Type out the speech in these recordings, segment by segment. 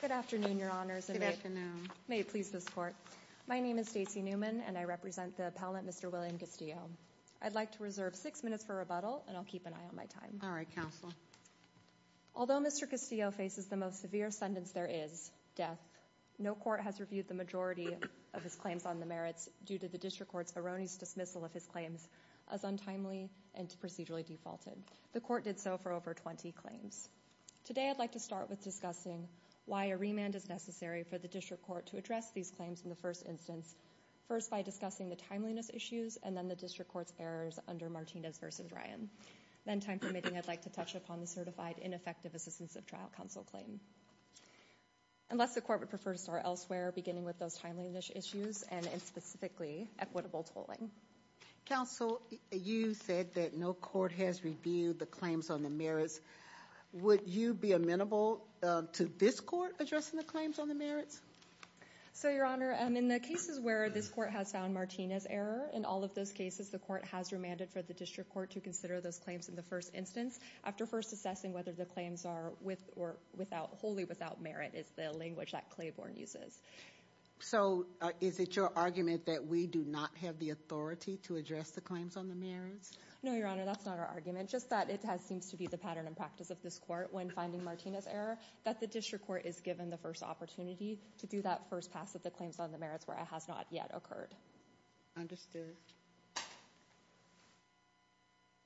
Good afternoon, your honors. May it please this court. My name is Stacey Newman and I represent the appellant Mr. William Castillo. I'd like to reserve six minutes for rebuttal and I'll keep an eye on my time. All right, counsel. Although Mr. Castillo faces the most severe sentence there is, death, no court has reviewed the majority of his claims on the merits due to the district court's erroneous dismissal of his claims as untimely and procedurally defaulted. The court did so for over 20 claims. Today I'd like to start with discussing why a remand is necessary for the district court to address these claims in the first instance. First by discussing the timeliness issues and then the district court's errors under Martinez v. Ryan. Then time permitting, I'd like to touch upon the certified ineffective assistance of trial counsel claim. Unless the court would prefer to start elsewhere beginning with those timeliness issues and specifically equitable tolling. Counsel, you said that no court has reviewed the claims on the merits. Would you be amenable to this court addressing the claims on the merits? So your honor, in the cases where this court has found Martinez error, in all of those cases the court has remanded for the district court to consider those claims in the first instance. After first assessing whether the claims are with or without, wholly without merit is the language that Claiborne uses. So is it your argument that we do not have the authority to address the claims on the merits? No your honor, that's not our argument. Just that it seems to be the pattern and practice of this court when finding Martinez error, that the district court is given the first opportunity to do that first pass of the claims on the merits where it has not yet occurred. Understood.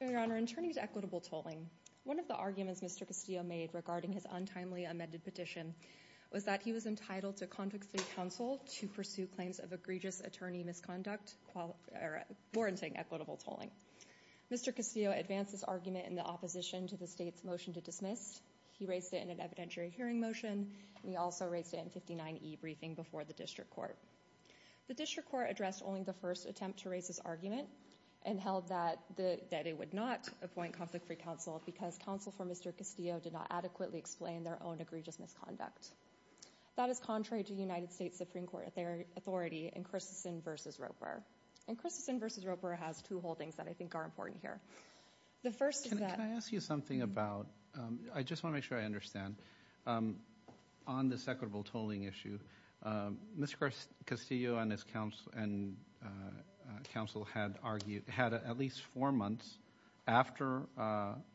Your honor, in turning to equitable tolling, one of the arguments Mr. Castillo made regarding his untimely amended petition was that he was entitled to conflict-free counsel to pursue claims of egregious attorney misconduct, warranting equitable tolling. Mr. Castillo advanced this argument in the opposition to the state's motion to dismiss. He raised it in an evidentiary hearing motion. He also raised it in 59E briefing before the district court. The district court addressed only the first attempt to raise this argument and held that it would not appoint conflict-free counsel because counsel for Mr. Castillo did not adequately explain their own egregious misconduct. That is contrary to United States Supreme Court authority in Christensen v. Roper. And Christensen v. Roper has two holdings that I think are important here. The first is that- Can I ask you something about, I just want to make sure I understand. On this equitable tolling issue, Mr. Castillo and his counsel had argued, had at least four months after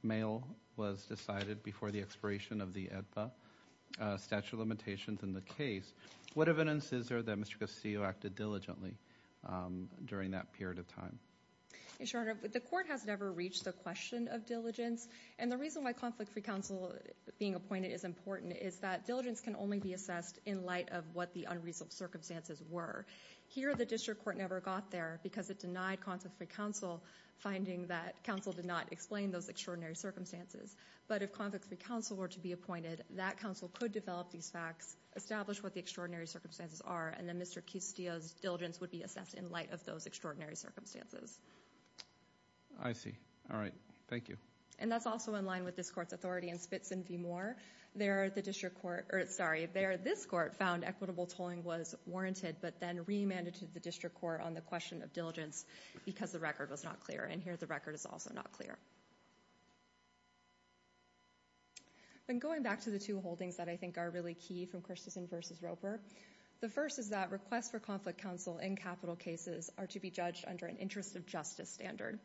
mail was decided before the expiration of the EDPA statute of limitations in the case. What evidence is there that Mr. Castillo acted diligently during that period of time? Your Honor, the court has never reached the question of diligence. And the reason why conflict-free counsel being appointed is important is that diligence can only be assessed in light of what the unreasonable circumstances were. Here, the district court never got there because it denied conflict-free counsel, finding that counsel did not explain those extraordinary circumstances. But if conflict-free counsel were to be appointed, that counsel could develop these facts, establish what the extraordinary circumstances are, and then Mr. Castillo's diligence would be assessed in light of those extraordinary circumstances. I see. All right. Thank you. And that's also in line with this court's authority in Spitzen v. Moore. There, the district court, or sorry, there, this court found equitable tolling was warranted but then remanded to the district court on the question of diligence because the record was not clear. And here, the record is also not clear. And going back to the two holdings that I think are really key from Christensen v. Roper, the first is that requests for conflict counsel in capital cases are to be judged under an interest of justice standard.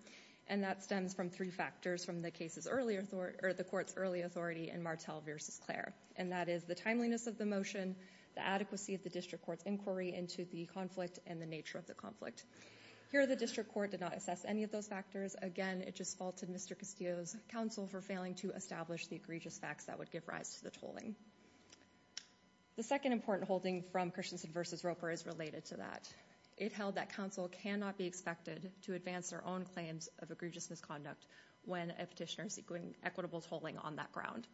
And that stems from three factors from the court's early authority in Martel v. Clair, and that is the timeliness of the motion, the adequacy of the district court's inquiry into the conflict and the nature of the conflict. Here, the district court did not assess any of those factors. Again, it just faulted Mr. Castillo's counsel for failing to establish the egregious facts that would give rise to the tolling. The second important holding from Christensen v. Roper is related to that. It held that counsel cannot be expected to advance their own claims of egregious misconduct when a petitioner is doing equitable tolling on that ground.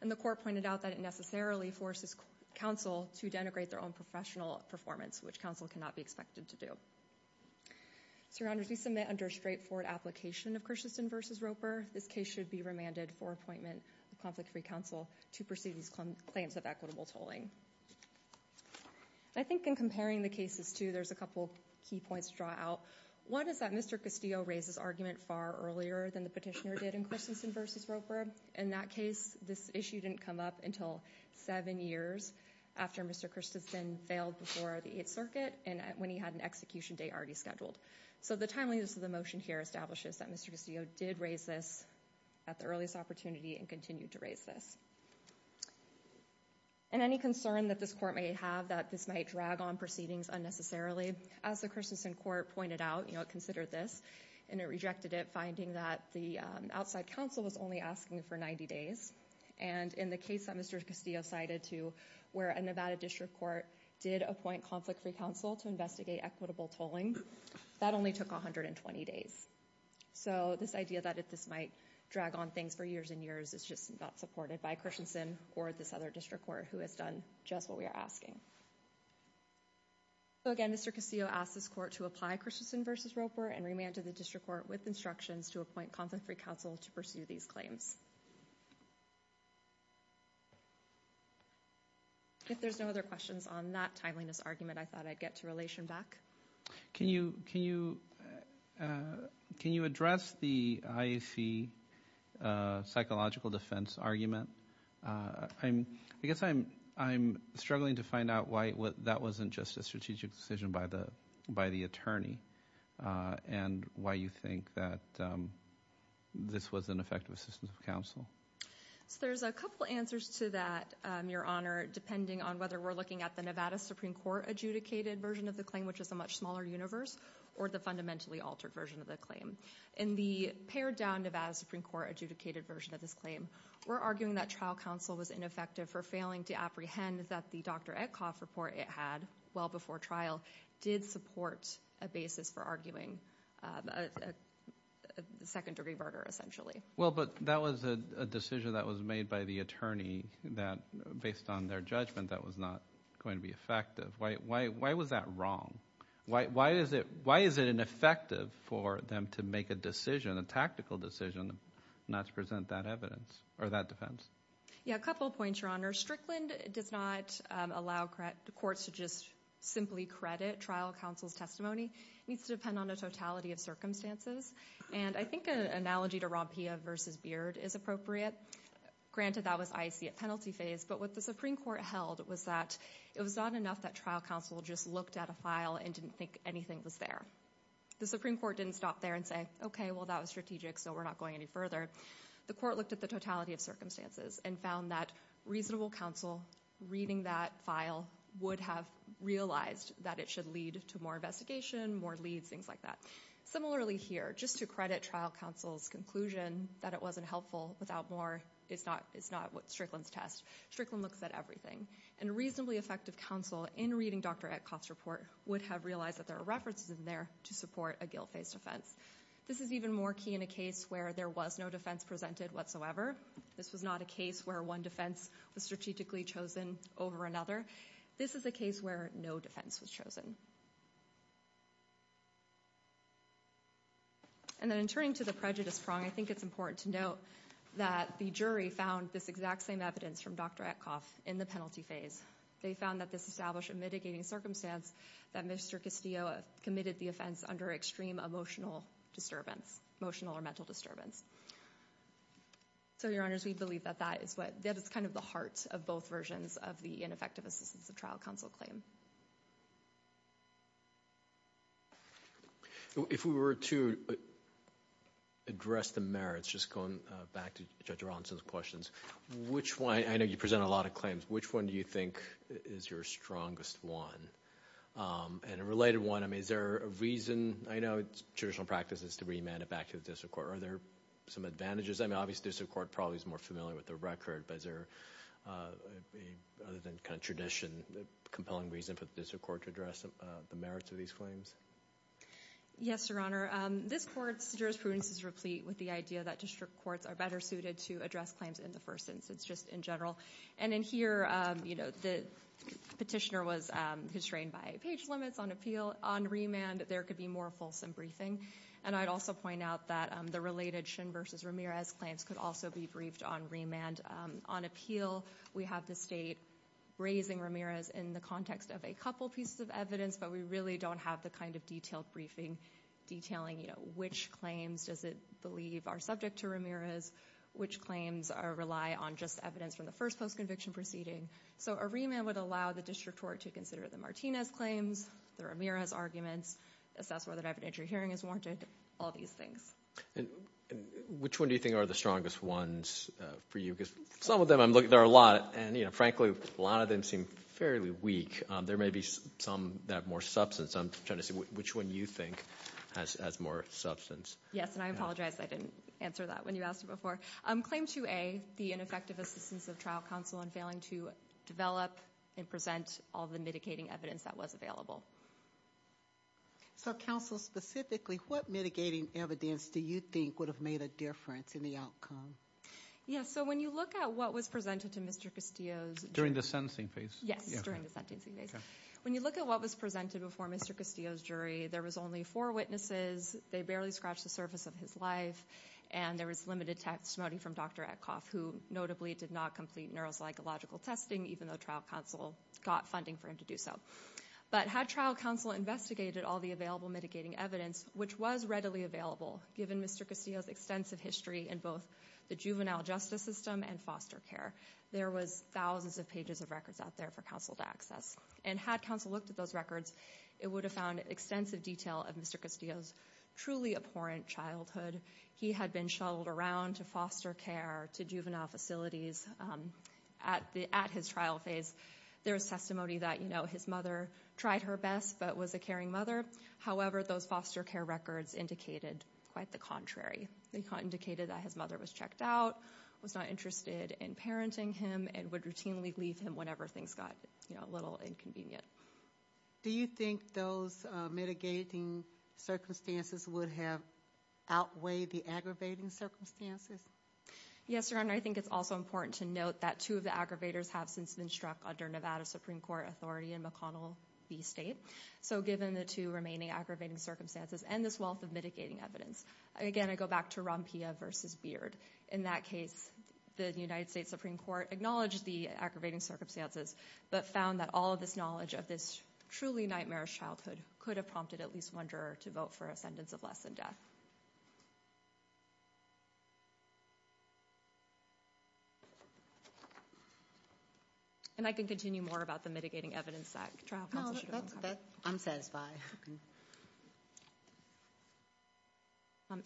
And the court pointed out that it necessarily forces counsel to denigrate their own professional performance, which counsel cannot be expected to do. So, Your Honors, we submit under straightforward application of Christensen v. Roper, this case should be remanded for appointment of conflict-free counsel to pursue these claims of equitable tolling. I think in comparing the cases, too, there's a couple key points to draw out. One is that Mr. Castillo raised this argument far earlier than the petitioner did in Christensen v. Roper. In that case, this issue didn't come up until seven years after Mr. Christensen failed before the Eighth Circuit and when he had an execution date already scheduled. So the timeliness of the motion here establishes that Mr. Castillo did raise this at the earliest opportunity and continued to raise this. And any concern that this court may have that this might drag on proceedings unnecessarily, as the Christensen court pointed out, you know, it considered this and it rejected it, finding that the outside counsel was only asking for 90 days. And in the case that Mr. Castillo cited, too, where a Nevada district court did appoint conflict-free counsel to investigate equitable tolling, that only took 120 days. So this idea that this might drag on things for years and years is just not supported by Christensen or this other district court who has done just what we are asking. So again, Mr. Castillo asked this court to apply Christensen v. Roper and remanded the district court with instructions to appoint conflict-free counsel to pursue these claims. If there's no other questions on that timeliness argument, I thought I'd get to relation back. Can you address the IAC psychological defense argument? I guess I'm struggling to find out why that wasn't just a strategic decision by the attorney and why you think that this was an effective assistance of counsel. So there's a couple answers to that, Your Honor, depending on whether we're looking at the Nevada Supreme Court adjudicated version of the claim, which is a much smaller universe, or the fundamentally altered version of the claim. In the pared-down Nevada Supreme Court adjudicated version of this claim, we're arguing that trial counsel was ineffective for failing to apprehend that the Dr. Etkoff report it had well before trial did support a basis for arguing a second-degree murder, essentially. Well, but that was a decision that was made by the attorney that, based on their judgment, that was not going to be effective. Why was that wrong? Why is it ineffective for them to make a decision, a tactical decision, not to present that evidence or that defense? Yeah, a couple points, Your Honor. Strickland does not allow the courts to just simply credit trial counsel's testimony. It needs to depend on the totality of circumstances. And I think an analogy to Rompia v. Beard is appropriate. Granted, that was IAC at penalty phase, but what the Supreme Court held was that it was not enough that trial counsel just looked at a file and didn't think anything was there. The Supreme Court didn't stop there and say, okay, well, that was strategic, so we're not going any further. The court looked at the totality of circumstances and found that reasonable counsel reading that file would have realized that it should lead to more investigation, more leads, things like that. Similarly here, just to credit trial counsel's conclusion that it wasn't helpful without more is not what Strickland's test. Strickland looks at everything. And reasonably effective counsel in reading Dr. Etkoff's report would have realized that there are references in there to support a guilt-based offense. This is even more key in a case where there was no defense presented whatsoever. This was not a case where one defense was strategically chosen over another. This is a case where no defense was chosen. And then in turning to the prejudice prong, I think it's important to note that the jury found this exact same evidence from Dr. Etkoff in the penalty phase. They found that this established a mitigating circumstance that Mr. Castillo committed the offense under extreme emotional disturbance, emotional or mental disturbance. So, your honors, we believe that that is kind of the heart of both versions of the ineffective assistance of trial counsel claim. If we were to address the merits, just going back to Judge Rawlinson's questions, which one, I know you present a lot of claims, which one do you think is your strongest one? And a related one, I mean, is there a reason, I know traditional practice is to remand it to the district court. Are there some advantages? I mean, obviously, the district court probably is more familiar with the record, but is there, other than kind of tradition, a compelling reason for the district court to address the merits of these claims? Yes, your honor. This court's jurisprudence is replete with the idea that district courts are better suited to address claims in the first instance, just in general. And in here, you know, the petitioner was constrained by page limits on appeal. On remand, there could be more fulsome briefing. And I'd also point out that the related Shin versus Ramirez claims could also be briefed on remand. On appeal, we have the state raising Ramirez in the context of a couple pieces of evidence, but we really don't have the kind of detailed briefing detailing, you know, which claims does it believe are subject to Ramirez, which claims rely on just evidence from the first post-conviction proceeding. So, a remand would allow the district court to consider the Martinez claims, the Ramirez arguments, assess whether dividend entry hearing is warranted, all these things. Which one do you think are the strongest ones for you? Because some of them, I'm looking, there are a lot, and you know, frankly, a lot of them seem fairly weak. There may be some that have more substance. I'm trying to see which one you think has more substance. Yes, and I apologize I didn't answer that when you asked it before. Claim 2A, the ineffective assistance of trial counsel in failing to develop and present all the mitigating evidence that was available. So, counsel, specifically, what mitigating evidence do you think would have made a difference in the outcome? Yes, so when you look at what was presented to Mr. Castillo's jury. During the sentencing phase? Yes, during the sentencing phase. When you look at what was presented before Mr. Castillo's jury, there was only four witnesses, they barely scratched the surface of his life, and there was limited testimony from Dr. Etkoff, who notably did not complete neuropsychological testing, even though trial counsel got funding for him to do so. But had trial counsel investigated all the available mitigating evidence, which was readily available, given Mr. Castillo's extensive history in both the juvenile justice system and foster care, there was thousands of pages of records out there for counsel to access. And had counsel looked at those records, it would have found extensive detail of Mr. Castillo's truly abhorrent childhood. He had been shuttled around to foster care, to juvenile facilities. At his trial phase, there was testimony that, you know, his mother tried her best, but was a caring mother. However, those foster care records indicated quite the contrary. They indicated that his mother was checked out, was not interested in parenting him, and would routinely leave him whenever things got, you know, a little inconvenient. Do you think those mitigating circumstances would have outweighed the aggravating circumstances? Yes, Your Honor, I think it's also important to note that two of the aggravators have since been struck under Nevada Supreme Court authority in McConnell v. State. So given the two remaining aggravating circumstances and this wealth of mitigating evidence, again, I go back to Rompilla v. Beard. In that case, the United States Supreme Court acknowledged the aggravating circumstances, but found that all of this knowledge of this truly nightmarish childhood could have prompted at least one juror to vote for a sentence of less than death. And I can continue more about the mitigating evidence that trial counsel should have uncovered. No, I'm satisfied.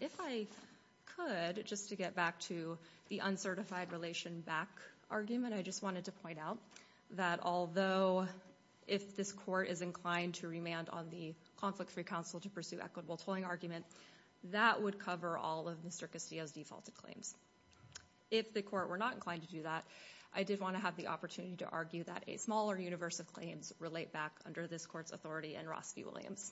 If I could, just to get back to the uncertified relation back argument, I just wanted to point out that although if this court is inclined to remand on the conflict-free counsel to pursue equitable tolling argument, that would cover all of Mr. Castillo's defaulted claims. If the court were not inclined to do that, I did want to have the opportunity to argue that a smaller universe of claims relate back under this court's authority in Ross v. Williams.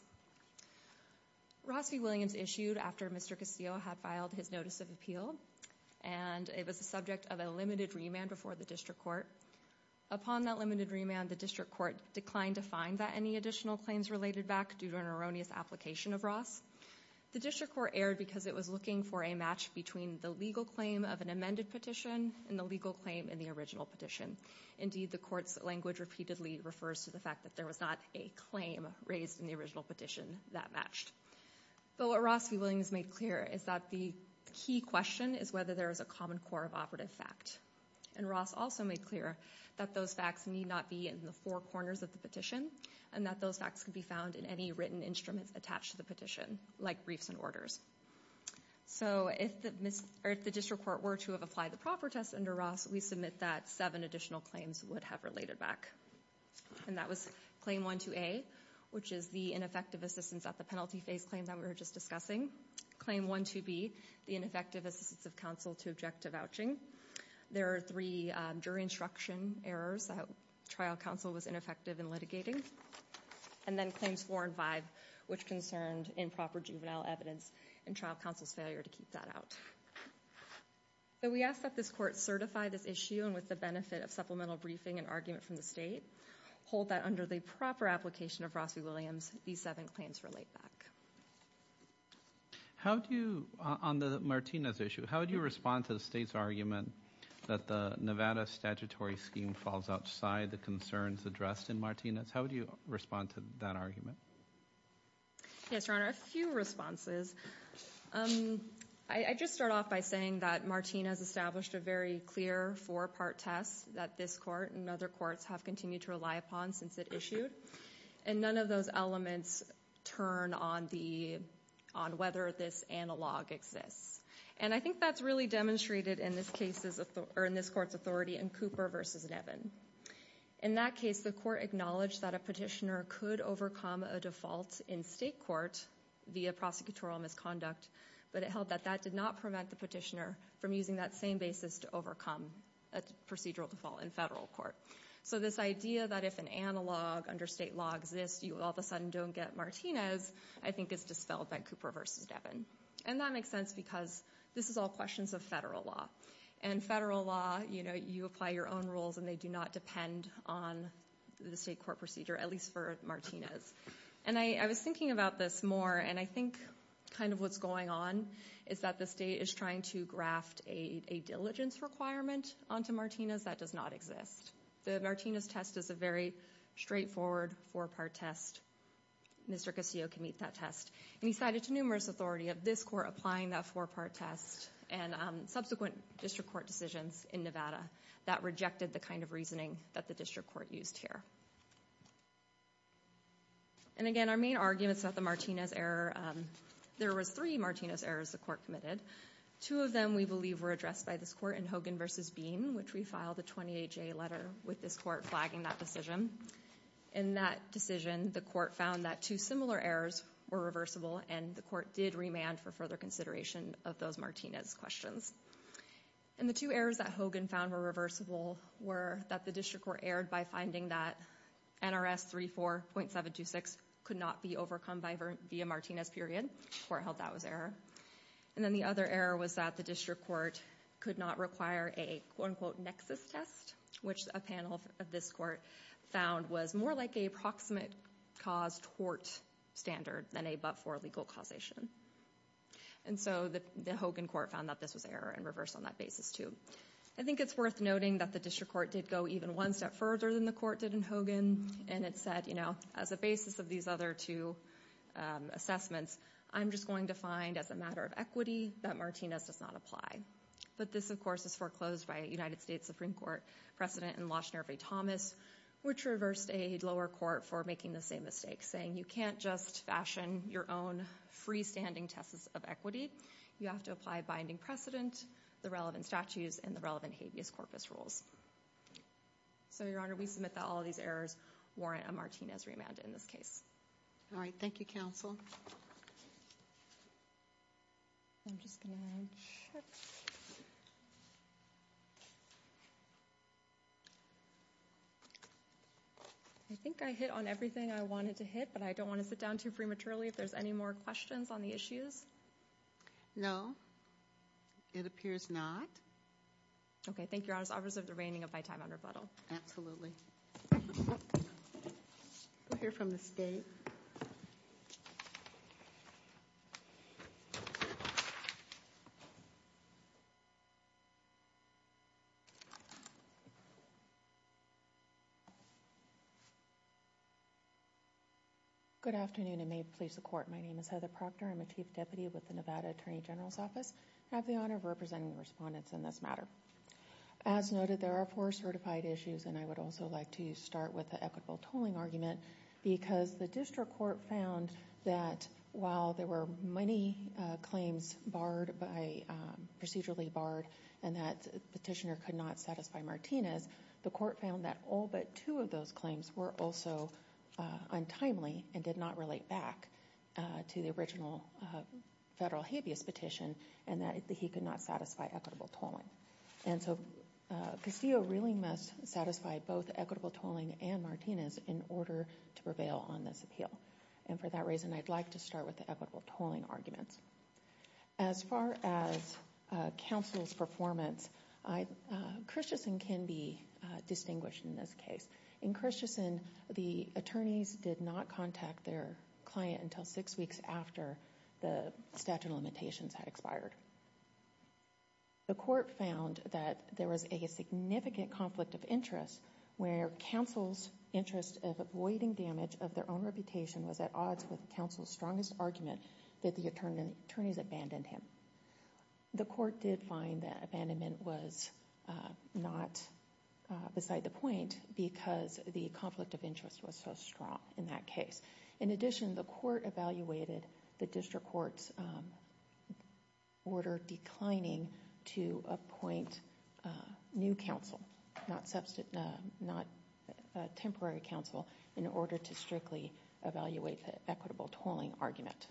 Ross v. Williams issued after Mr. Castillo had filed his notice of appeal, and it was subject of a limited remand before the district court. Upon that limited remand, the district court declined to find that any additional claims related back due to an erroneous application of Ross. The district court erred because it was looking for a match between the legal claim of an amended petition and the legal claim in the original petition. Indeed, the court's language repeatedly refers to the fact that there was not a claim raised in the original petition that matched. But what Ross v. Williams made clear is that the key question is whether there is a common core of operative fact. And Ross also made clear that those facts need not be in the four corners of the petition, and that those facts can be found in any written instruments attached to the petition, like briefs and orders. So if the district court were to have applied the proper test under Ross, we submit that seven additional claims would have related back. And that was Claim 1-2A, which is the ineffective assistance at the penalty phase claim that we were just discussing. Claim 1-2B, the ineffective assistance of counsel to objective vouching. There are three jury instruction errors that trial counsel was ineffective in litigating. And then Claims 4 and 5, which concerned improper juvenile evidence and trial counsel's failure to keep that out. We ask that this court certify this issue and with the benefit of supplemental briefing and argument from the state, hold that under the proper application of Ross v. Williams, these seven claims relate back. How do you, on the Martinez issue, how do you respond to the state's argument that the Nevada statutory scheme falls outside the concerns addressed in Martinez? How do you respond to that argument? Yes, Your Honor, a few responses. I just start off by saying that Martinez established a very clear four-part test that this court and other courts have continued to rely upon since it issued. And none of those elements turn on whether this analog exists. And I think that's really demonstrated in this court's authority in Cooper v. Nevin. In that case, the court acknowledged that a petitioner could overcome a default in state court via prosecutorial misconduct, but it held that that did not prevent the petitioner from using that same basis to overcome a procedural default in federal court. So this idea that if an analog under state law exists, you all of a sudden don't get Martinez, I think is dispelled by Cooper v. Nevin. And that makes sense because this is all questions of federal law. And federal law, you apply your own rules and they do not depend on the state court procedure, at least for Martinez. And I was thinking about this more, and I think kind of what's going on is that the state is trying to graft a diligence requirement onto Martinez that does not exist. The Martinez test is a very straightforward four-part test. Mr. Casillo can meet that test. And he cited to numerous authority of this court applying that four-part test and subsequent district court decisions in Nevada that rejected the kind of reasoning that the district court used here. And again, our main argument is that the Martinez error, there was three Martinez errors the court committed. Two of them we believe were addressed by this court in Hogan v. Bean, which we filed a 28-J letter with this court flagging that decision. In that decision, the court found that two similar errors were reversible, and the court did remand for further consideration of those Martinez questions. And the two errors that Hogan found were reversible were that the district court erred by finding that NRS 34.726 could not be overcome via Martinez period, the court held that was error. And then the other error was that the district court could not require a quote-unquote nexus test, which a panel of this court found was more like a proximate-caused tort standard than a but-for legal causation. And so the Hogan court found that this was error and reverse on that basis, too. I think it's worth noting that the district court did go even one step further than the court did in Hogan, and it said, you know, as a basis of these other two assessments, I'm just going to find, as a matter of equity, that Martinez does not apply. But this, of course, is foreclosed by a United States Supreme Court precedent in Laushner v. Thomas, which reversed a lower court for making the same mistake, saying you can't just fashion your own freestanding tests of equity, you have to apply a binding precedent, the relevant statutes, and the relevant habeas corpus rules. So Your Honor, we submit that all of these errors warrant a Martinez remand in this case. All right. Thank you, counsel. I think I hit on everything I wanted to hit, but I don't want to sit down too prematurely if there's any more questions on the issues. No. It appears not. Okay. Thank you, Your Honor. I'll reserve the remaining of my time on rebuttal. Absolutely. We'll hear from the State. Good afternoon, and may it please the Court. My name is Heather Proctor. I'm a Chief Deputy with the Nevada Attorney General's Office. I have the honor of representing the respondents in this matter. As noted, there are four certified issues, and I would also like to start with the equitable tolling argument because the district court found that while there were many claims procedurally barred and that the petitioner could not satisfy Martinez, the court found that all but two of those claims were also untimely and did not relate back to the original federal habeas petition and that he could not satisfy equitable tolling. And so Castillo really must satisfy both equitable tolling and Martinez in order to prevail on this appeal. And for that reason, I'd like to start with the equitable tolling arguments. As far as counsel's performance, Christensen can be distinguished in this case. In Christensen, the attorneys did not contact their client until six weeks after the statute and limitations had expired. The court found that there was a significant conflict of interest where counsel's interest of avoiding damage of their own reputation was at odds with counsel's strongest argument that the attorneys abandoned him. The court did find that abandonment was not beside the point because the conflict of interest was so strong in that case. In addition, the court evaluated the district court's order declining to appoint new counsel, not temporary counsel, in order to strictly evaluate the equitable tolling argument.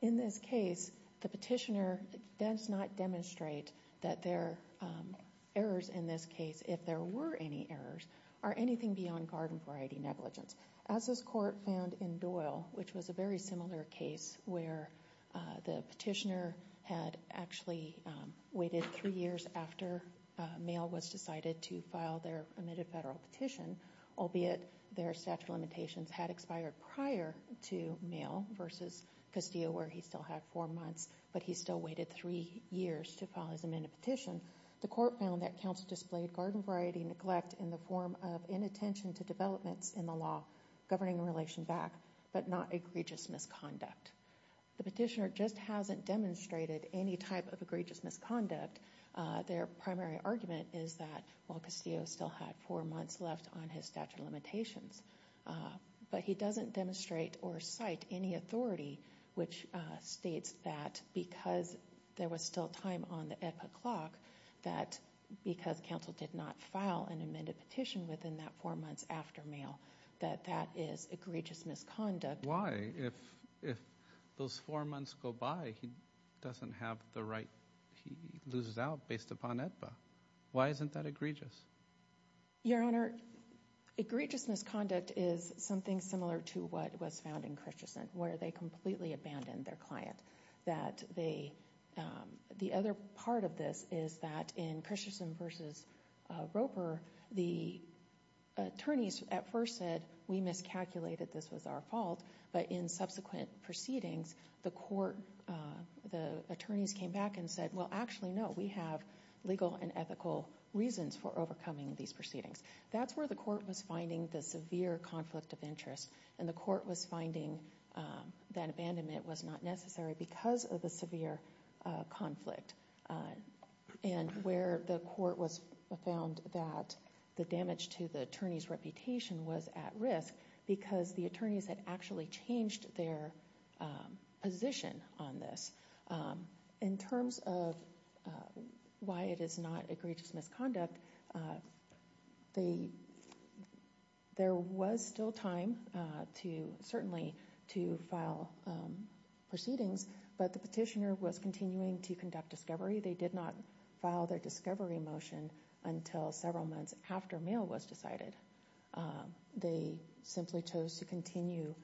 In this case, the petitioner does not demonstrate that their errors in this case, if there were any errors, are anything beyond garden variety negligence. As this court found in Doyle, which was a very similar case where the petitioner had actually waited three years after Mayall was decided to file their amended federal petition, albeit their statute of limitations had expired prior to Mayall versus Castillo where he still had four months, but he still waited three years to file his amended petition, the court found that counsel displayed garden variety neglect in the form of inattention to developments in the law governing the relation back, but not egregious misconduct. The petitioner just hasn't demonstrated any type of egregious misconduct. Their primary argument is that while Castillo still had four months left on his statute of limitations, but he doesn't demonstrate or cite any authority which states that because there was still time on the epoch clock, that because counsel did not file an amended petition within that four months after Mayall, that that is egregious misconduct. Why? If those four months go by, he doesn't have the right, he loses out based upon AEDPA. Why isn't that egregious? Your Honor, egregious misconduct is something similar to what was found in Christensen, where they completely abandoned their client. The other part of this is that in Christensen versus Roper, the attorneys at first said we miscalculated, this was our fault, but in subsequent proceedings, the attorneys came back and said, well, actually, no, we have legal and ethical reasons for overcoming these proceedings. That's where the court was finding the severe conflict of interest, and the court was finding that abandonment was not necessary because of the severe conflict, and where the court was found that the damage to the attorney's reputation was at risk because the attorneys had actually changed their position on this. In terms of why it is not egregious misconduct, there was still time to certainly to file proceedings, but the petitioner was continuing to conduct discovery. They did not file their discovery motion until several months after Mayall was decided. They simply chose to continue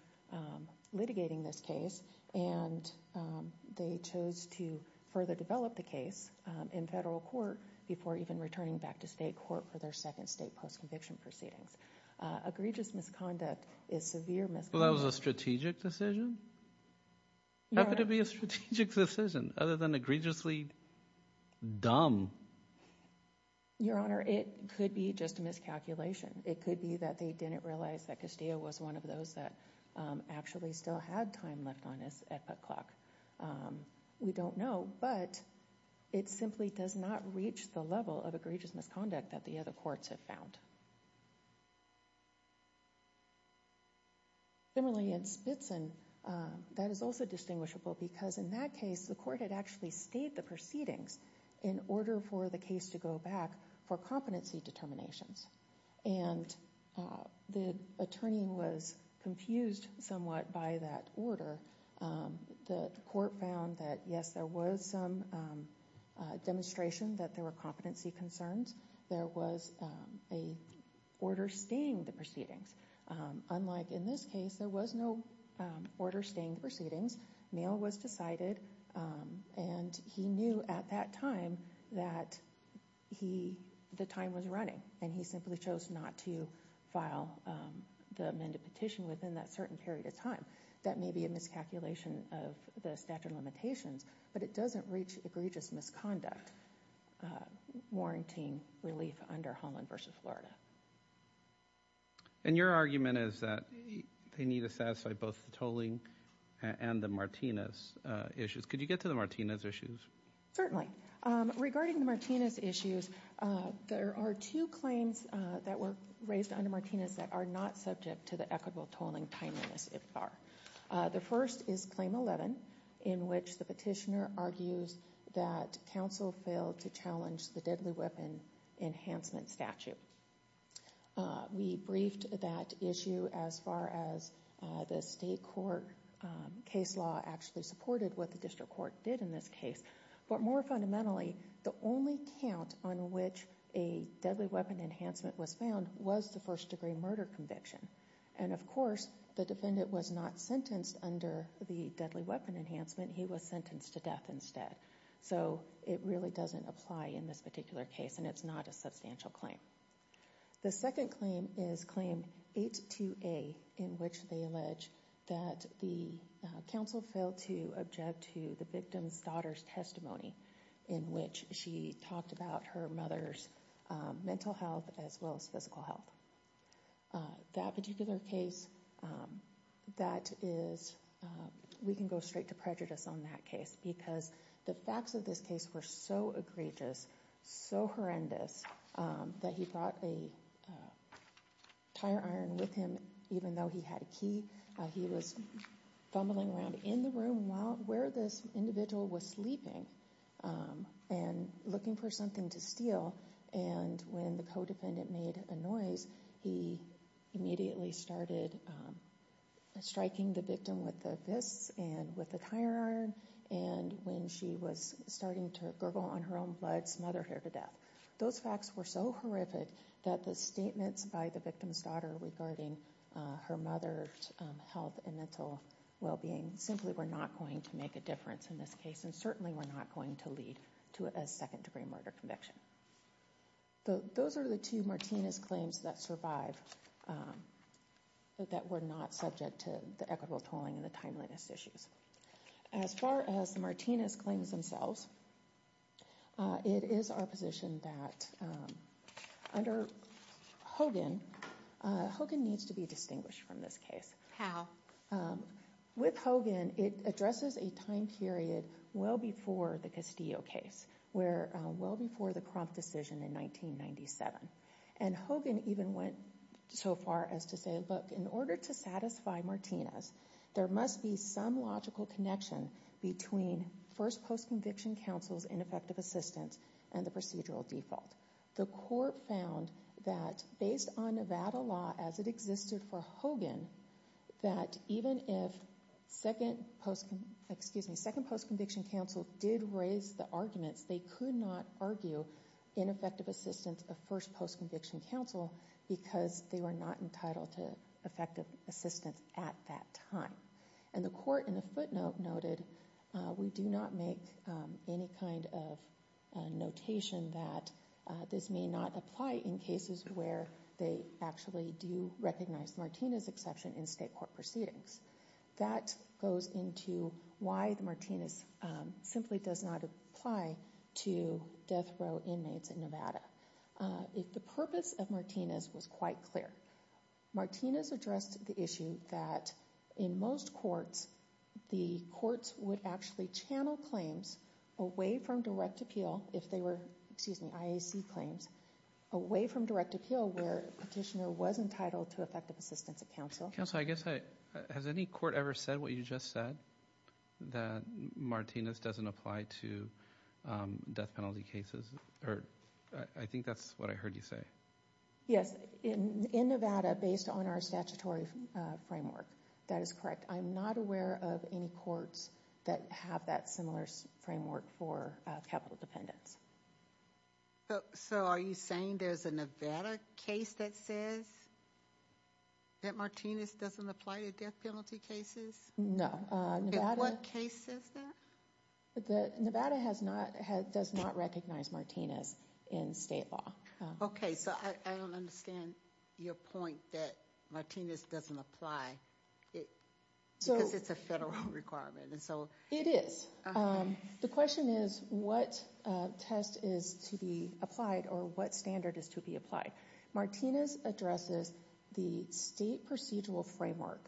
litigating this case, and they chose to further develop the case in federal court before even returning back to state court for their second state post-conviction proceedings. Egregious misconduct is severe misconduct. Well, that was a strategic decision? How could it be a strategic decision other than egregiously dumb? Your Honor, it could be just a miscalculation. It could be that they didn't realize that Castillo was one of those that actually still had time left on this at that clock. We don't know, but it simply does not reach the level of egregious misconduct that the other courts have found. Similarly, in Spitzen, that is also distinguishable because in that case, the court had actually stayed the proceedings in order for the case to go back for competency determinations. And the attorney was confused somewhat by that order. The court found that, yes, there was some demonstration that there were competency concerns. There was an order staying the proceedings. Unlike in this case, there was no order staying the proceedings. Mail was decided, and he knew at that time that the time was running. And he simply chose not to file the amended petition within that certain period of time. That may be a miscalculation of the statute of limitations, but it doesn't reach egregious misconduct warranting relief under Holland v. Florida. And your argument is that they need to satisfy both the tolling and the Martinez issues. Could you get to the Martinez issues? Certainly. Regarding the Martinez issues, there are two claims that were raised under Martinez that are not subject to the equitable tolling timeliness, if they are. The first is Claim 11, in which the petitioner argues that counsel failed to challenge the We briefed that issue as far as the state court case law actually supported what the district court did in this case. But more fundamentally, the only count on which a deadly weapon enhancement was found was the first degree murder conviction. And of course, the defendant was not sentenced under the deadly weapon enhancement. He was sentenced to death instead. So it really doesn't apply in this particular case, and it's not a substantial claim. The second claim is Claim 82A, in which they allege that the counsel failed to object to the victim's daughter's testimony, in which she talked about her mother's mental health as well as physical health. That particular case, that is, we can go straight to prejudice on that case, because the facts of this case were so egregious, so horrendous, that he brought a tire iron with him, even though he had a key. He was fumbling around in the room where this individual was sleeping and looking for something to steal. And when the co-defendant made a noise, he immediately started striking the victim with the fists and with the tire iron, and when she was starting to gurgle on her own blood, smother her to death. Those facts were so horrific that the statements by the victim's daughter regarding her mother's health and mental well-being simply were not going to make a difference in this case, and certainly were not going to lead to a second degree murder conviction. Those are the two Martinez claims that survive, that were not subject to the equitable tolling and the timeliness issues. As far as the Martinez claims themselves, it is our position that under Hogan, Hogan needs to be distinguished from this case. How? With Hogan, it addresses a time period well before the Castillo case, well before the Crump decision in 1997. And Hogan even went so far as to say, look, in order to satisfy Martinez, there must be some logical connection between first post-conviction counsel's ineffective assistance and the procedural default. The court found that based on Nevada law as it existed for Hogan, that even if second post-conviction counsel did raise the arguments, they could not argue ineffective assistance of first post-conviction counsel because they were not entitled to effective assistance at that time. And the court in the footnote noted, we do not make any kind of notation that this may not apply in cases where they actually do recognize Martinez's exception in state court proceedings. That goes into why the Martinez simply does not apply to death row inmates in Nevada. If the purpose of Martinez was quite clear. Martinez addressed the issue that in most courts, the courts would actually channel claims away from direct appeal if they were, excuse me, IAC claims, away from direct appeal where a petitioner was entitled to effective assistance at counsel. Counsel, I guess I, has any court ever said what you just said? That Martinez doesn't apply to death penalty cases? Or, I think that's what I heard you say. Yes, in Nevada, based on our statutory framework. That is correct. I'm not aware of any courts that have that similar framework for capital dependence. So, are you saying there's a Nevada case that says that Martinez doesn't apply to death penalty cases? No. And what case says that? Nevada has not, does not recognize Martinez in state law. Okay, so I don't understand your point that Martinez doesn't apply because it's a federal requirement. It is. The question is what test is to be applied or what standard is to be applied. Martinez addresses the state procedural framework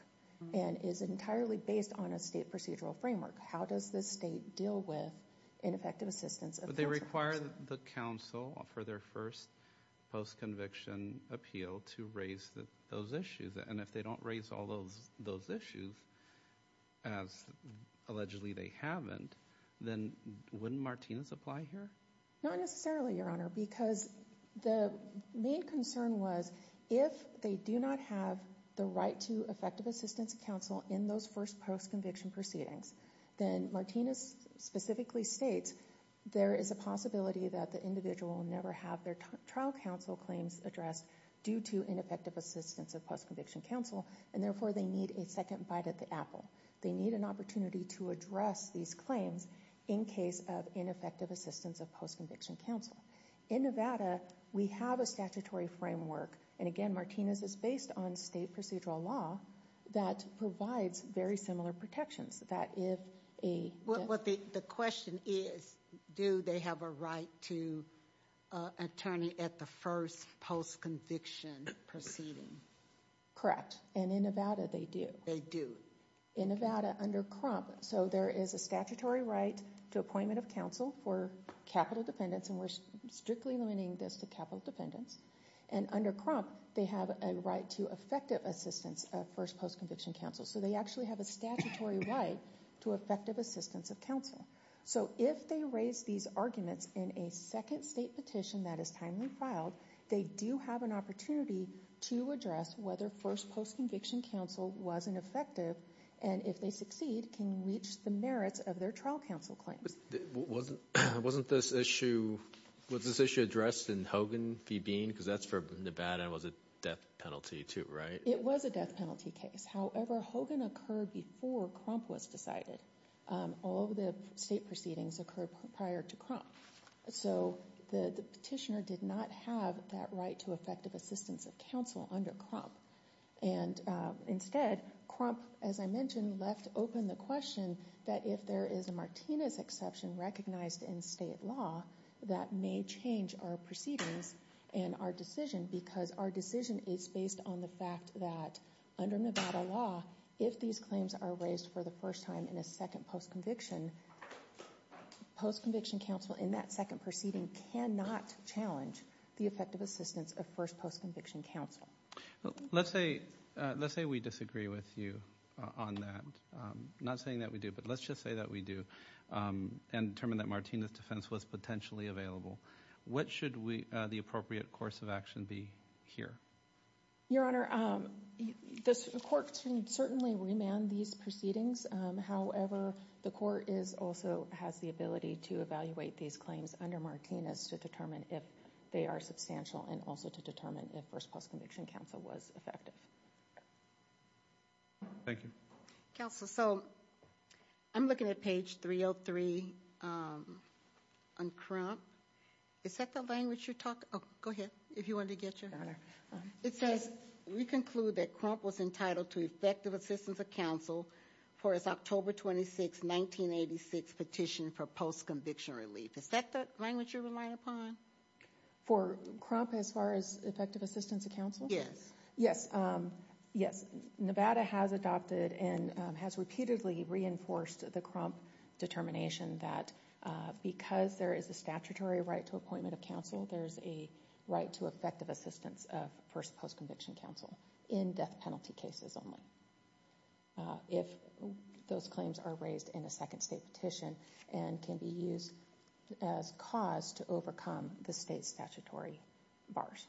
and is entirely based on a state procedural framework. How does the state deal with ineffective assistance? But they require the counsel for their first post-conviction appeal to raise those issues. And if they don't raise all those issues, as allegedly they haven't, then wouldn't Martinez apply here? Not necessarily, Your Honor, because the main concern was if they do not have the right to effective assistance at counsel in those first post-conviction proceedings, then Martinez specifically states there is a possibility that the individual will never have their trial counsel claims addressed due to ineffective assistance of post-conviction counsel, and therefore they need a second bite at the apple. They need an opportunity to address these claims in case of ineffective assistance of post-conviction counsel. In Nevada, we have a statutory framework, and again, Martinez is based on state procedural law, that provides very similar protections. The question is, do they have a right to an attorney at the first post-conviction proceeding? Correct. And in Nevada, they do. They do. In Nevada, under Crump, so there is a statutory right to appointment of counsel for capital dependents, and we're strictly limiting this to capital dependents. And under Crump, they have a right to effective assistance of first post-conviction counsel. So they actually have a statutory right to effective assistance of counsel. So if they raise these arguments in a second state petition that is timely filed, they do have an opportunity to address whether first post-conviction counsel was ineffective, and if they succeed, can reach the merits of their trial counsel claims. Wasn't this issue addressed in Hogan v. Bean? Because that's for Nevada, and it was a death penalty too, right? It was a death penalty case. However, Hogan occurred before Crump was decided. All of the state proceedings occurred prior to Crump. So the petitioner did not have that right to effective assistance of counsel under Crump. And instead, Crump, as I mentioned, left open the question that if there is a Martinez exception recognized in state law, that may change our proceedings and our decision, because our law, if these claims are raised for the first time in a second post-conviction, post-conviction counsel in that second proceeding cannot challenge the effective assistance of first post-conviction counsel. Let's say we disagree with you on that. Not saying that we do, but let's just say that we do, and determine that Martinez defense was potentially available. What should the appropriate course of action be here? Your Honor, the court can certainly remand these proceedings. However, the court also has the ability to evaluate these claims under Martinez to determine if they are substantial, and also to determine if first post-conviction counsel was effective. Thank you. Counsel, so I'm looking at page 303 on Crump. Is that the language you're talking? Go ahead, if you wanted to get your... It says, we conclude that Crump was entitled to effective assistance of counsel for his October 26, 1986 petition for post-conviction relief. Is that the language you're relying upon? For Crump as far as effective assistance of counsel? Yes. Yes. Nevada has adopted and has repeatedly reinforced the Crump determination that because there is a statutory right to appointment of counsel, there is a right to effective assistance of first post-conviction counsel in death penalty cases only. If those claims are raised in a second state petition and can be used as cause to overcome the state's statutory bars.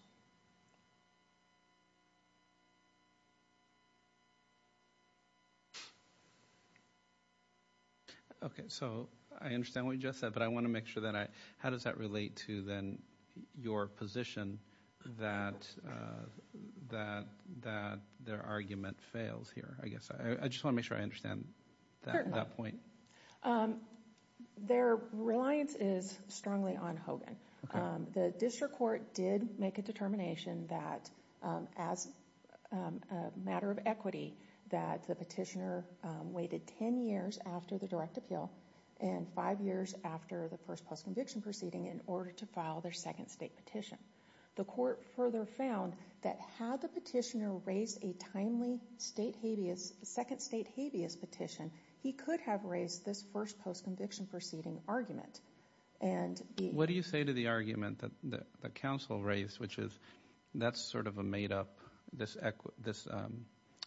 Okay, so I understand what you just said, but I want to make sure that I... How does that relate to then your position that their argument fails here? I just want to make sure I understand that point. Their reliance is strongly on Hogan. The district court did make a determination that as a matter of equity that the petitioner waited 10 years after the direct appeal and 5 years after the first post-conviction proceeding in order to file their second state petition. The court further found that had the petitioner raised a timely second state habeas petition, he could have raised this first post-conviction proceeding argument. What do you say to the argument that the counsel raised, which is that's sort of a made-up, this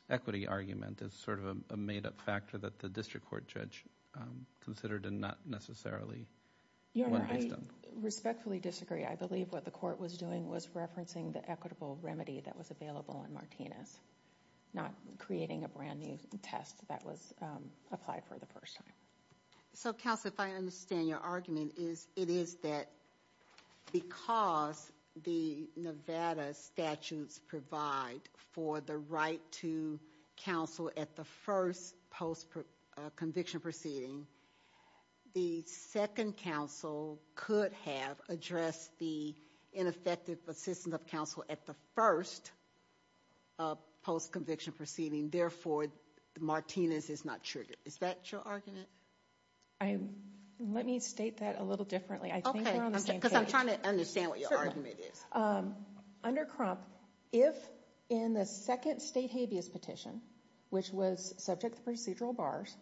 equity argument is sort of a made-up factor that the district court judge considered and not necessarily... Your Honor, I respectfully disagree. I believe what the court was doing was referencing the equitable remedy that was available in Martinez, not creating a brand new test that was applied for the first time. So, counsel, if I understand your argument, it is that because the Nevada statutes provide for the right to counsel at the first post-conviction proceeding, the second counsel could have addressed the ineffective assistance of counsel at the first post-conviction proceeding. Therefore, Martinez is not triggered. Is that your argument? Let me state that a little differently. I think we're on the same page. Okay, because I'm trying to understand what your argument is. Under Crump, if in the second state habeas petition, which was subject to procedural bars,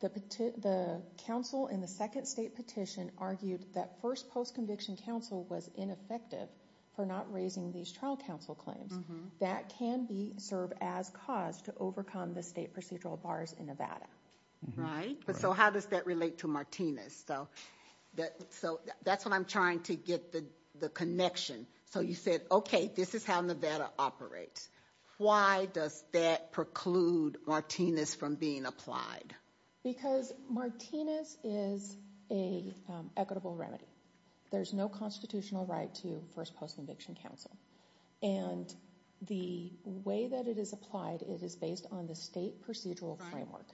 the counsel in the second state petition argued that first post-conviction counsel was ineffective for not raising these trial counsel claims, that can serve as cause to overcome the state procedural bars in Nevada. Right. So how does that relate to Martinez? So that's what I'm trying to get the connection. So you said, okay, this is how Nevada operates. Why does that preclude Martinez from being applied? Because Martinez is an equitable remedy. There's no constitutional right to first post-conviction counsel. And the way that it is applied, it is based on the state procedural framework.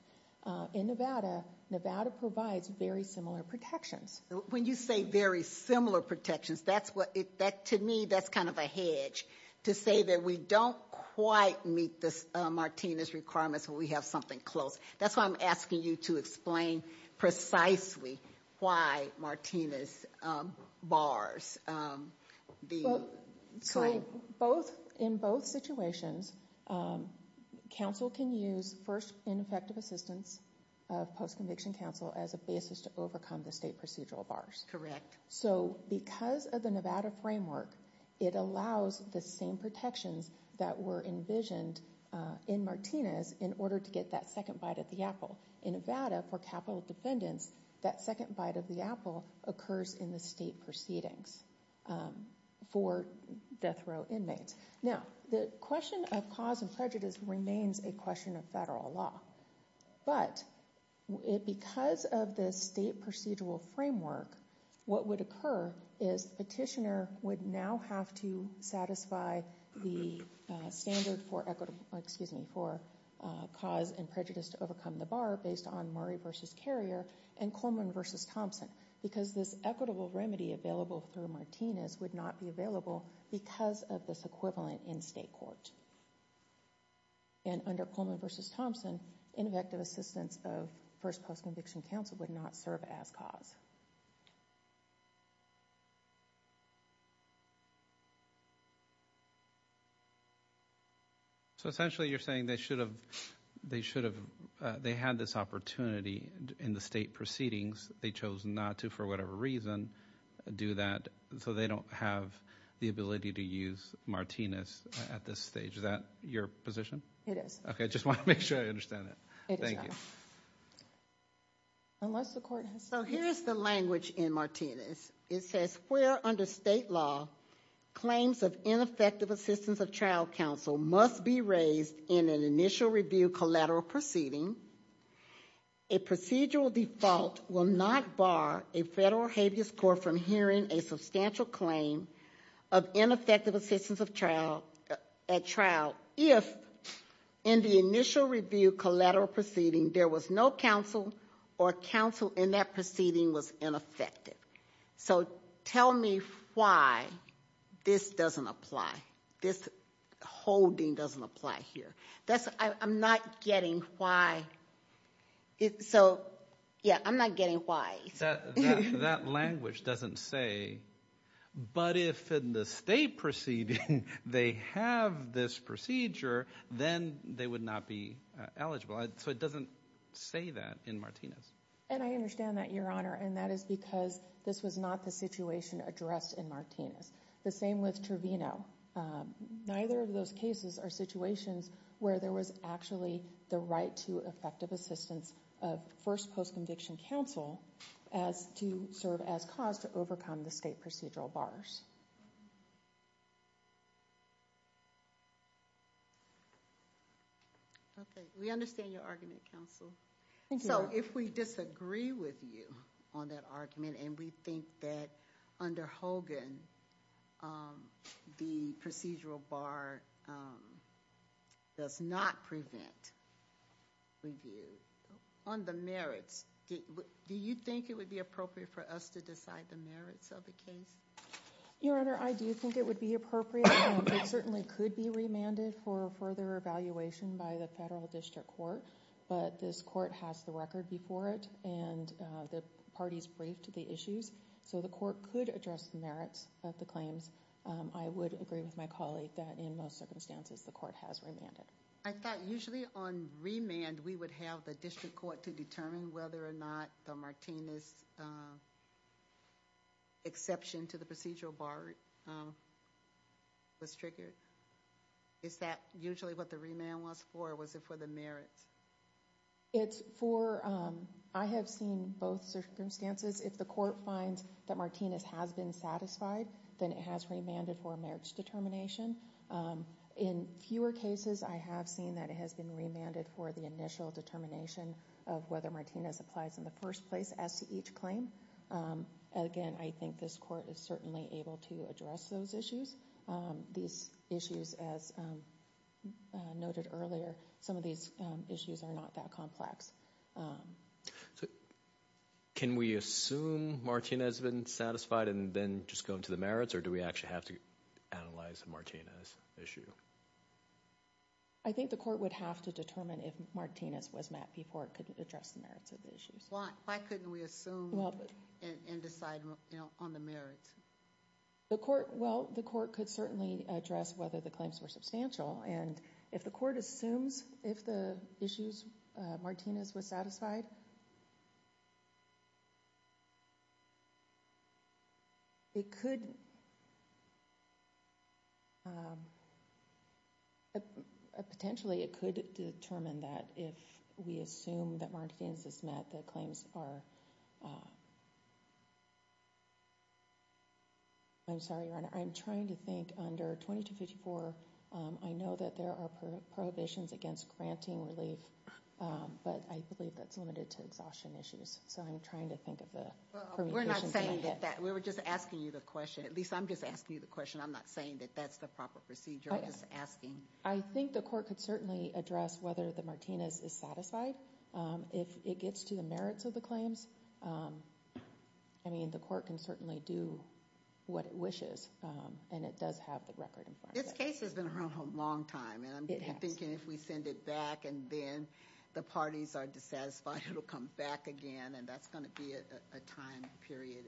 In Nevada, Nevada provides very similar protections. When you say very similar protections, to me that's kind of a hedge to say that we don't quite meet Martinez's requirements when we have something close. That's why I'm asking you to explain precisely why Martinez bars the claim. In both situations, counsel can use first ineffective assistance of post-conviction counsel as a basis to overcome the state procedural bars. Correct. So because of the Nevada framework, it allows the same protections that were envisioned in Martinez in order to get that second bite of the apple. In Nevada, for capital defendants, that second bite of the apple occurs in the state proceedings for death row inmates. Now, the question of cause and prejudice remains a question of federal law. But because of the state procedural framework, what would occur is petitioner would now have to satisfy the standard for cause and prejudice to overcome the bar based on Murray v. Carrier and Coleman v. Thompson because this equitable remedy available through Martinez would not be available because of this equivalent in state court. And under Coleman v. Thompson, ineffective assistance of first post-conviction counsel would not serve as cause. So essentially you're saying they should have had this opportunity in the state proceedings. They chose not to for whatever reason do that so they don't have the ability to use Martinez at this stage. Is that your position? It is. Okay, I just want to make sure I understand that. It is, Your Honor. Thank you. So here's the language in Martinez. It says where under state law claims of ineffective assistance of trial counsel must be raised in an initial review collateral proceeding, a procedural default will not bar a federal habeas court from hearing a substantial claim of ineffective assistance at trial if in the initial review collateral proceeding there was no counsel or counsel in that proceeding was ineffective. So tell me why this doesn't apply, this holding doesn't apply here. I'm not getting why. So, yeah, I'm not getting why. That language doesn't say, but if in the state proceeding they have this procedure, then they would not be eligible. So it doesn't say that in Martinez. And I understand that, Your Honor, and that is because this was not the situation addressed in Martinez. The same with Trevino. Neither of those cases are situations where there was actually the right to effective assistance of first post-conviction counsel as to serve as cause to overcome the state procedural bars. Okay. We understand your argument, counsel. Thank you. So if we disagree with you on that argument and we think that under Hogan the procedural bar does not prevent review on the merits, do you think it would be appropriate for us to decide the merits of the case? Your Honor, I do think it would be appropriate. It certainly could be remanded for further evaluation by the federal district court, but this court has the record before it and the parties briefed the issues, so the court could address the merits of the claims. I would agree with my colleague that in most circumstances the court has remanded. I thought usually on remand we would have the district court to determine whether or not the Martinez exception to the procedural bar was triggered. Is that usually what the remand was for, or was it for the merits? I have seen both circumstances. If the court finds that Martinez has been satisfied, then it has remanded for a merits determination. In fewer cases I have seen that it has been remanded for the initial determination of whether Martinez applies in the first place as to each claim. Again, I think this court is certainly able to address those issues. These issues, as noted earlier, some of these issues are not that complex. Can we assume Martinez has been satisfied and then just go into the merits, or do we actually have to analyze the Martinez issue? I think the court would have to determine if Martinez was met before it could address the merits of the issues. Why couldn't we assume and decide on the merits? Well, the court could certainly address whether the claims were substantial, and if the court assumes if the issues Martinez was satisfied, it could potentially determine that if we assume that Martinez is met, the claims are. I'm sorry, Your Honor. I'm trying to think under 2254. I know that there are prohibitions against granting relief, but I believe that's limited to exhaustion issues. So I'm trying to think of the permutations. We're not saying that. We were just asking you the question. At least I'm just asking you the question. I'm not saying that that's the proper procedure. I'm just asking. I think the court could certainly address whether the Martinez is satisfied. If it gets to the merits of the claims, I mean, the court can certainly do what it wishes, and it does have the record in front of it. This case has been around a long time, and I'm thinking if we send it back and then the parties are dissatisfied, it'll come back again, and that's going to be a time period.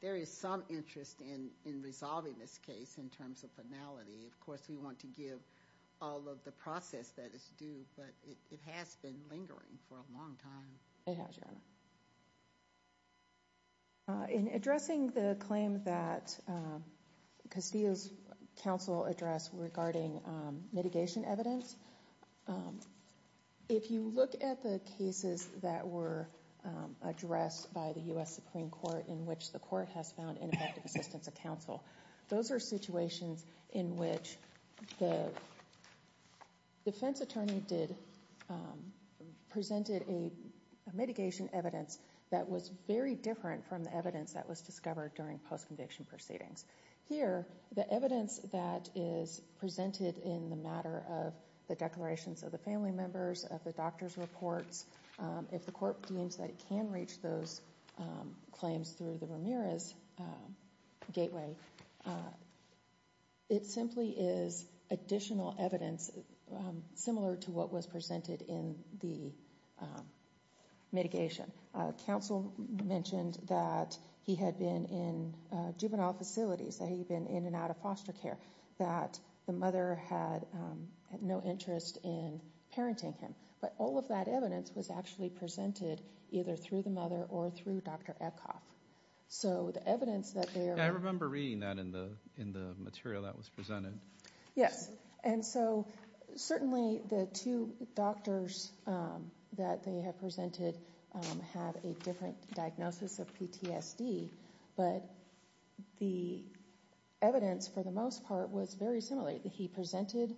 There is some interest in resolving this case in terms of finality. Of course, we want to give all of the process that is due, but it has been lingering for a long time. It has, Your Honor. In addressing the claim that Castillo's counsel addressed regarding mitigation evidence, if you look at the cases that were addressed by the U.S. Supreme Court in which the court has found ineffective assistance of counsel, those are situations in which the defense attorney presented a mitigation evidence that was very different from the evidence that was discovered during post-conviction proceedings. Here, the evidence that is presented in the matter of the declarations of the family members, of the doctor's reports, if the court deems that it can reach those claims through the Ramirez gateway, it simply is additional evidence similar to what was presented in the mitigation. Counsel mentioned that he had been in juvenile facilities, that he had been in and out of foster care, that the mother had no interest in parenting him. But all of that evidence was actually presented either through the mother or through Dr. Eckhoff. I remember reading that in the material that was presented. Certainly, the two doctors that they have presented have a different diagnosis of PTSD, but the evidence, for the most part, was very similar. He presented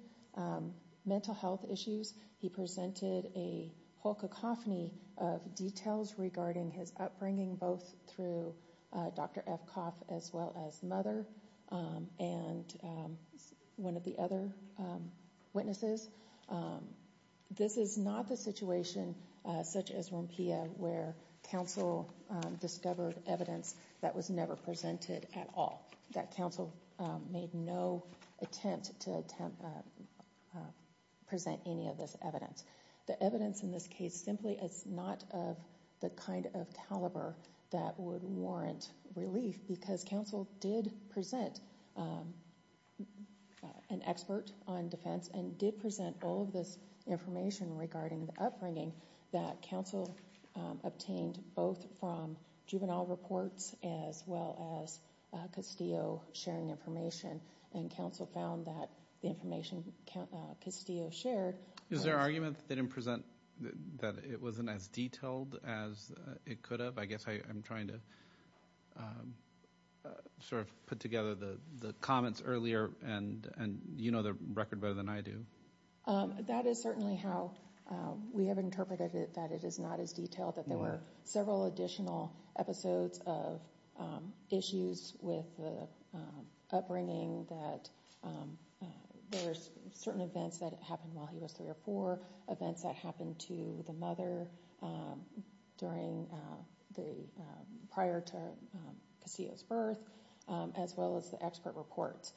mental health issues. He presented a whole cacophony of details regarding his upbringing, both through Dr. Eckhoff as well as the mother and one of the other witnesses. This is not the situation, such as Rumpia, where counsel discovered evidence that was never presented at all, that counsel made no attempt to present any of this evidence. The evidence in this case simply is not of the kind of caliber that would warrant relief because counsel did present an expert on defense and did present all of this information regarding the upbringing that counsel obtained both from juvenile reports as well as Castillo sharing information, and counsel found that the information Castillo shared- Is there argument that they didn't present, that it wasn't as detailed as it could have? I guess I'm trying to sort of put together the comments earlier, and you know the record better than I do. That is certainly how we have interpreted it, that it is not as detailed, that there were several additional episodes of issues with the upbringing, that there were certain events that happened while he was three or four, events that happened to the mother prior to Castillo's birth, as well as the expert reports.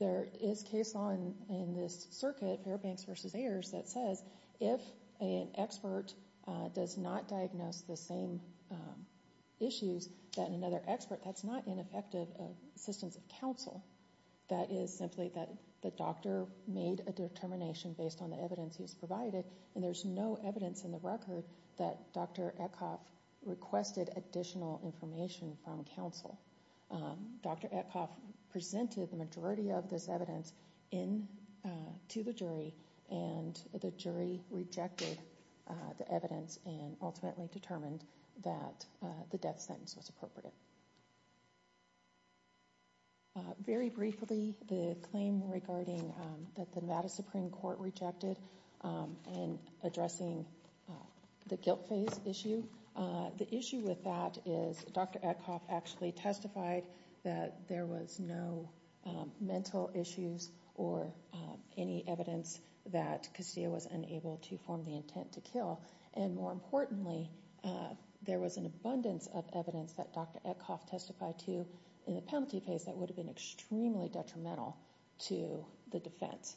There is case law in this circuit, Fairbanks v. Ayers, that says if an expert does not diagnose the same issues than another expert, that's not ineffective assistance of counsel. That is simply that the doctor made a determination based on the evidence he's provided, and there's no evidence in the record that Dr. Etcoff requested additional information from counsel. Dr. Etcoff presented the majority of this evidence to the jury, and the jury rejected the evidence and ultimately determined that the death sentence was appropriate. Very briefly, the claim regarding that the Nevada Supreme Court rejected in addressing the guilt phase issue. The issue with that is Dr. Etcoff actually testified that there was no mental issues or any evidence that Castillo was unable to form the intent to kill. And more importantly, there was an abundance of evidence that Dr. Etcoff testified to in the penalty phase that would have been extremely detrimental to the defense,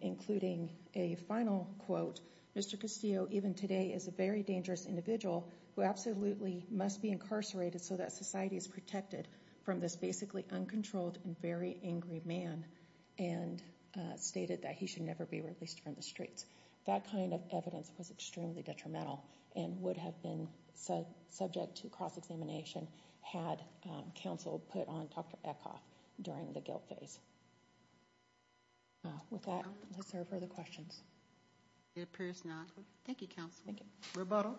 including a final quote, Mr. Castillo even today is a very dangerous individual who absolutely must be incarcerated so that society is protected from this basically uncontrolled and very angry man and stated that he should never be released from the streets. That kind of evidence was extremely detrimental and would have been subject to cross-examination had counsel put on Dr. Etcoff during the guilt phase. With that, is there further questions? It appears not. Thank you, counsel. Thank you. Rebuttal.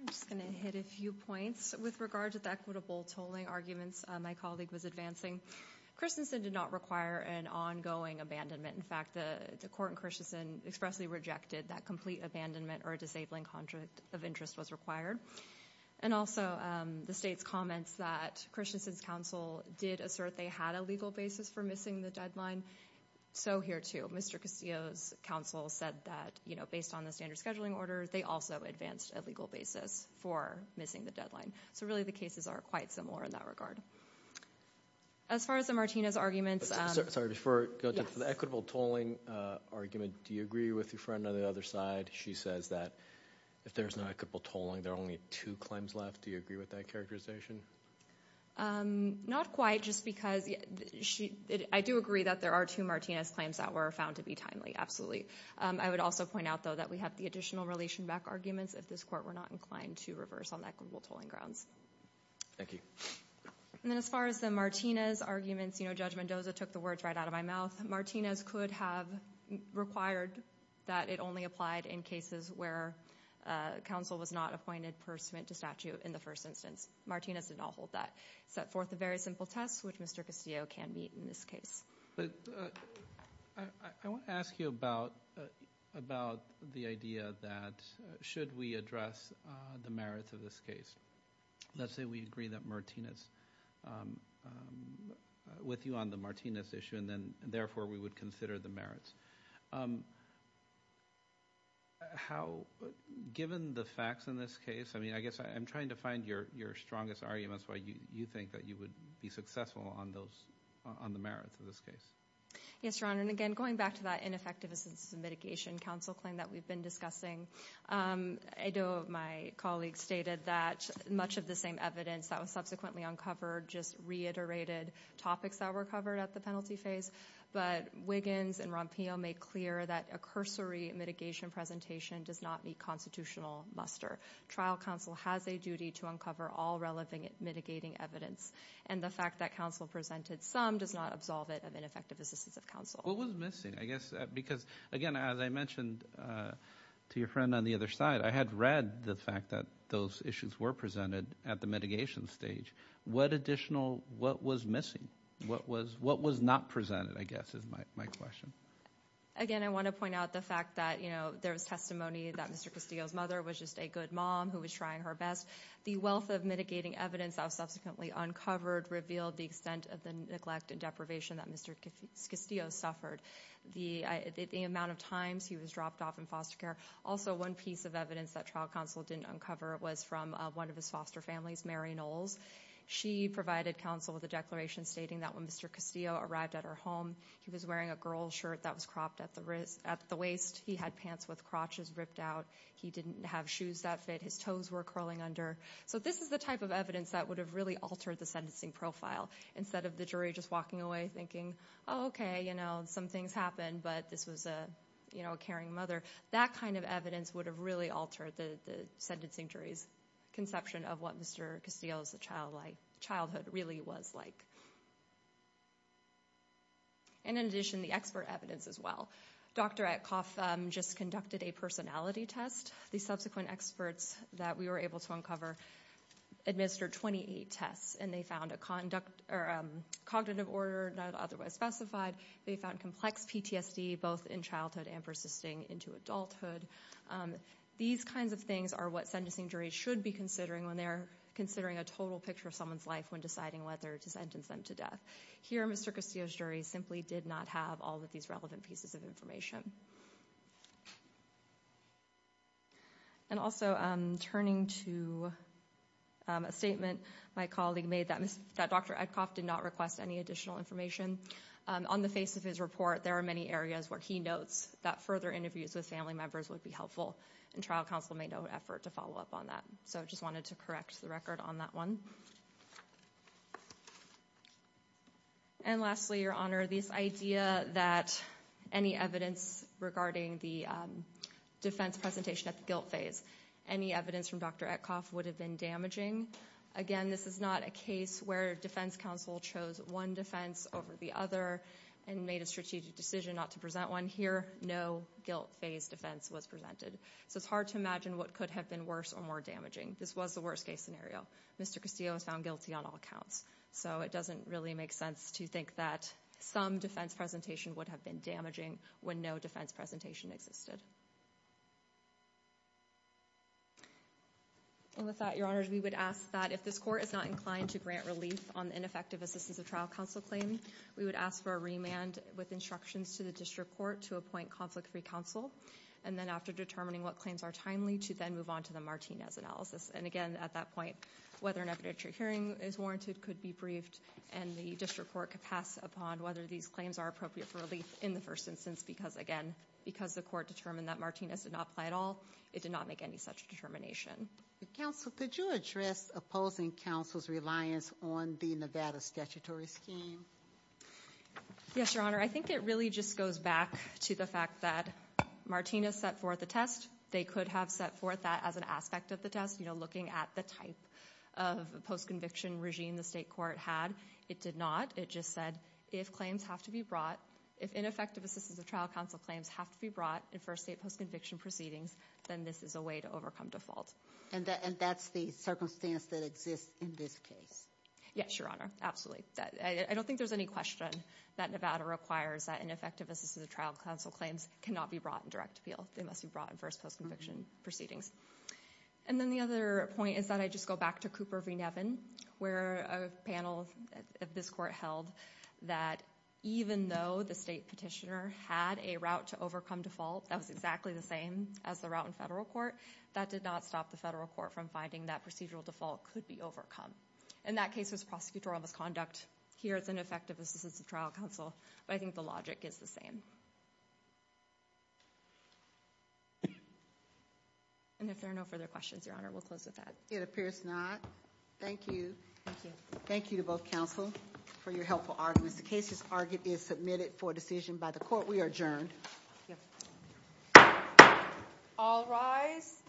I'm just going to hit a few points. With regard to the equitable tolling arguments my colleague was advancing, Christensen did not require an ongoing abandonment. In fact, the court in Christensen expressly rejected that complete abandonment or a disabling contract of interest was required. And also the state's comments that Christensen's counsel did assert they had a legal basis for missing the deadline. So here, too, Mr. Castillo's counsel said that based on the standard scheduling order, they also advanced a legal basis for missing the deadline. So really the cases are quite similar in that regard. As far as the Martinez arguments. Sorry, before I go to the equitable tolling argument, do you agree with your friend on the other side? She says that if there's no equitable tolling, there are only two claims left. Do you agree with that characterization? Not quite, just because I do agree that there are two Martinez claims that were found to be timely. Absolutely. I would also point out, though, that we have the additional relation back arguments if this court were not inclined to reverse on equitable tolling grounds. Thank you. And then as far as the Martinez arguments, you know, Judge Mendoza took the words right out of my mouth. Martinez could have required that it only applied in cases where counsel was not appointed pursuant to statute in the first instance. Martinez did not hold that. It set forth a very simple test, which Mr. Castillo can meet in this case. I want to ask you about the idea that should we address the merits of this case? Let's say we agree with you on the Martinez issue and therefore we would consider the merits. Given the facts in this case, I mean, I guess I'm trying to find your strongest arguments and that's why you think that you would be successful on the merits of this case. Yes, Your Honor. And again, going back to that ineffective assistance and mitigation counsel claim that we've been discussing, I know my colleague stated that much of the same evidence that was subsequently uncovered just reiterated topics that were covered at the penalty phase. But Wiggins and Rompillo made clear that a cursory mitigation presentation does not meet constitutional muster. Trial counsel has a duty to uncover all relevant mitigating evidence. And the fact that counsel presented some does not absolve it of ineffective assistance of counsel. What was missing? Because, again, as I mentioned to your friend on the other side, I had read the fact that those issues were presented at the mitigation stage. What additional, what was missing? What was not presented, I guess, is my question. Again, I want to point out the fact that there was testimony that Mr. Castillo's mother was just a good mom who was trying her best. The wealth of mitigating evidence that was subsequently uncovered revealed the extent of the neglect and deprivation that Mr. Castillo suffered. The amount of times he was dropped off in foster care. Also, one piece of evidence that trial counsel didn't uncover was from one of his foster families, Mary Knowles. She provided counsel with a declaration stating that when Mr. Castillo arrived at her home, he was wearing a girl's shirt that was cropped at the waist. He had pants with crotches ripped out. He didn't have shoes that fit. His toes were curling under. So this is the type of evidence that would have really altered the sentencing profile. Instead of the jury just walking away thinking, oh, okay, you know, some things happened, but this was a caring mother. That kind of evidence would have really altered the sentencing jury's conception of what Mr. Castillo's childhood really was like. And in addition, the expert evidence as well. Dr. Atkoff just conducted a personality test. The subsequent experts that we were able to uncover administered 28 tests, and they found a cognitive order not otherwise specified. They found complex PTSD both in childhood and persisting into adulthood. These kinds of things are what sentencing juries should be considering when they're considering a total picture of someone's life when deciding whether to sentence them to death. Here, Mr. Castillo's jury simply did not have all of these relevant pieces of information. And also, turning to a statement my colleague made that Dr. Atkoff did not request any additional information. On the face of his report, there are many areas where he notes that further interviews with family members would be helpful, and trial counsel made no effort to follow up on that. So I just wanted to correct the record on that one. And lastly, Your Honor, this idea that any evidence regarding the defense presentation at the guilt phase, any evidence from Dr. Atkoff would have been damaging. Again, this is not a case where defense counsel chose one defense over the other and made a strategic decision not to present one. Here, no guilt phase defense was presented. So it's hard to imagine what could have been worse or more damaging. This was the worst case scenario. Mr. Castillo was found guilty on all counts. So it doesn't really make sense to think that some defense presentation would have been damaging when no defense presentation existed. And with that, Your Honor, we would ask that if this court is not inclined to grant relief on the ineffective assistance of trial counsel claim, we would ask for a remand with instructions to the district court to appoint conflict-free counsel. And then after determining what claims are timely, to then move on to the Martinez analysis. And again, at that point, whether an evidentiary hearing is warranted could be briefed, and the district court could pass upon whether these claims are appropriate for relief in the first instance. Because, again, because the court determined that Martinez did not apply at all, it did not make any such determination. Counsel, could you address opposing counsel's reliance on the Nevada statutory scheme? Yes, Your Honor. I think it really just goes back to the fact that Martinez set forth a test. They could have set forth that as an aspect of the test, you know, looking at the type of post-conviction regime the state court had. It did not. It just said if claims have to be brought, if ineffective assistance of trial counsel claims have to be brought in first state post-conviction proceedings, then this is a way to overcome default. And that's the circumstance that exists in this case? Yes, Your Honor, absolutely. I don't think there's any question that Nevada requires that ineffective assistance of trial counsel claims cannot be brought in direct appeal. They must be brought in first post-conviction proceedings. And then the other point is that I just go back to Cooper v. Nevin, where a panel of this court held that even though the state petitioner had a route to overcome default that was exactly the same as the route in federal court, that did not stop the federal court from finding that procedural default could be overcome. And that case was prosecutorial misconduct. Here it's ineffective assistance of trial counsel, but I think the logic is the same. And if there are no further questions, Your Honor, we'll close with that. It appears not. Thank you. Thank you. Thank you to both counsel for your helpful arguments. The case is submitted for decision by the court. We are adjourned. All rise.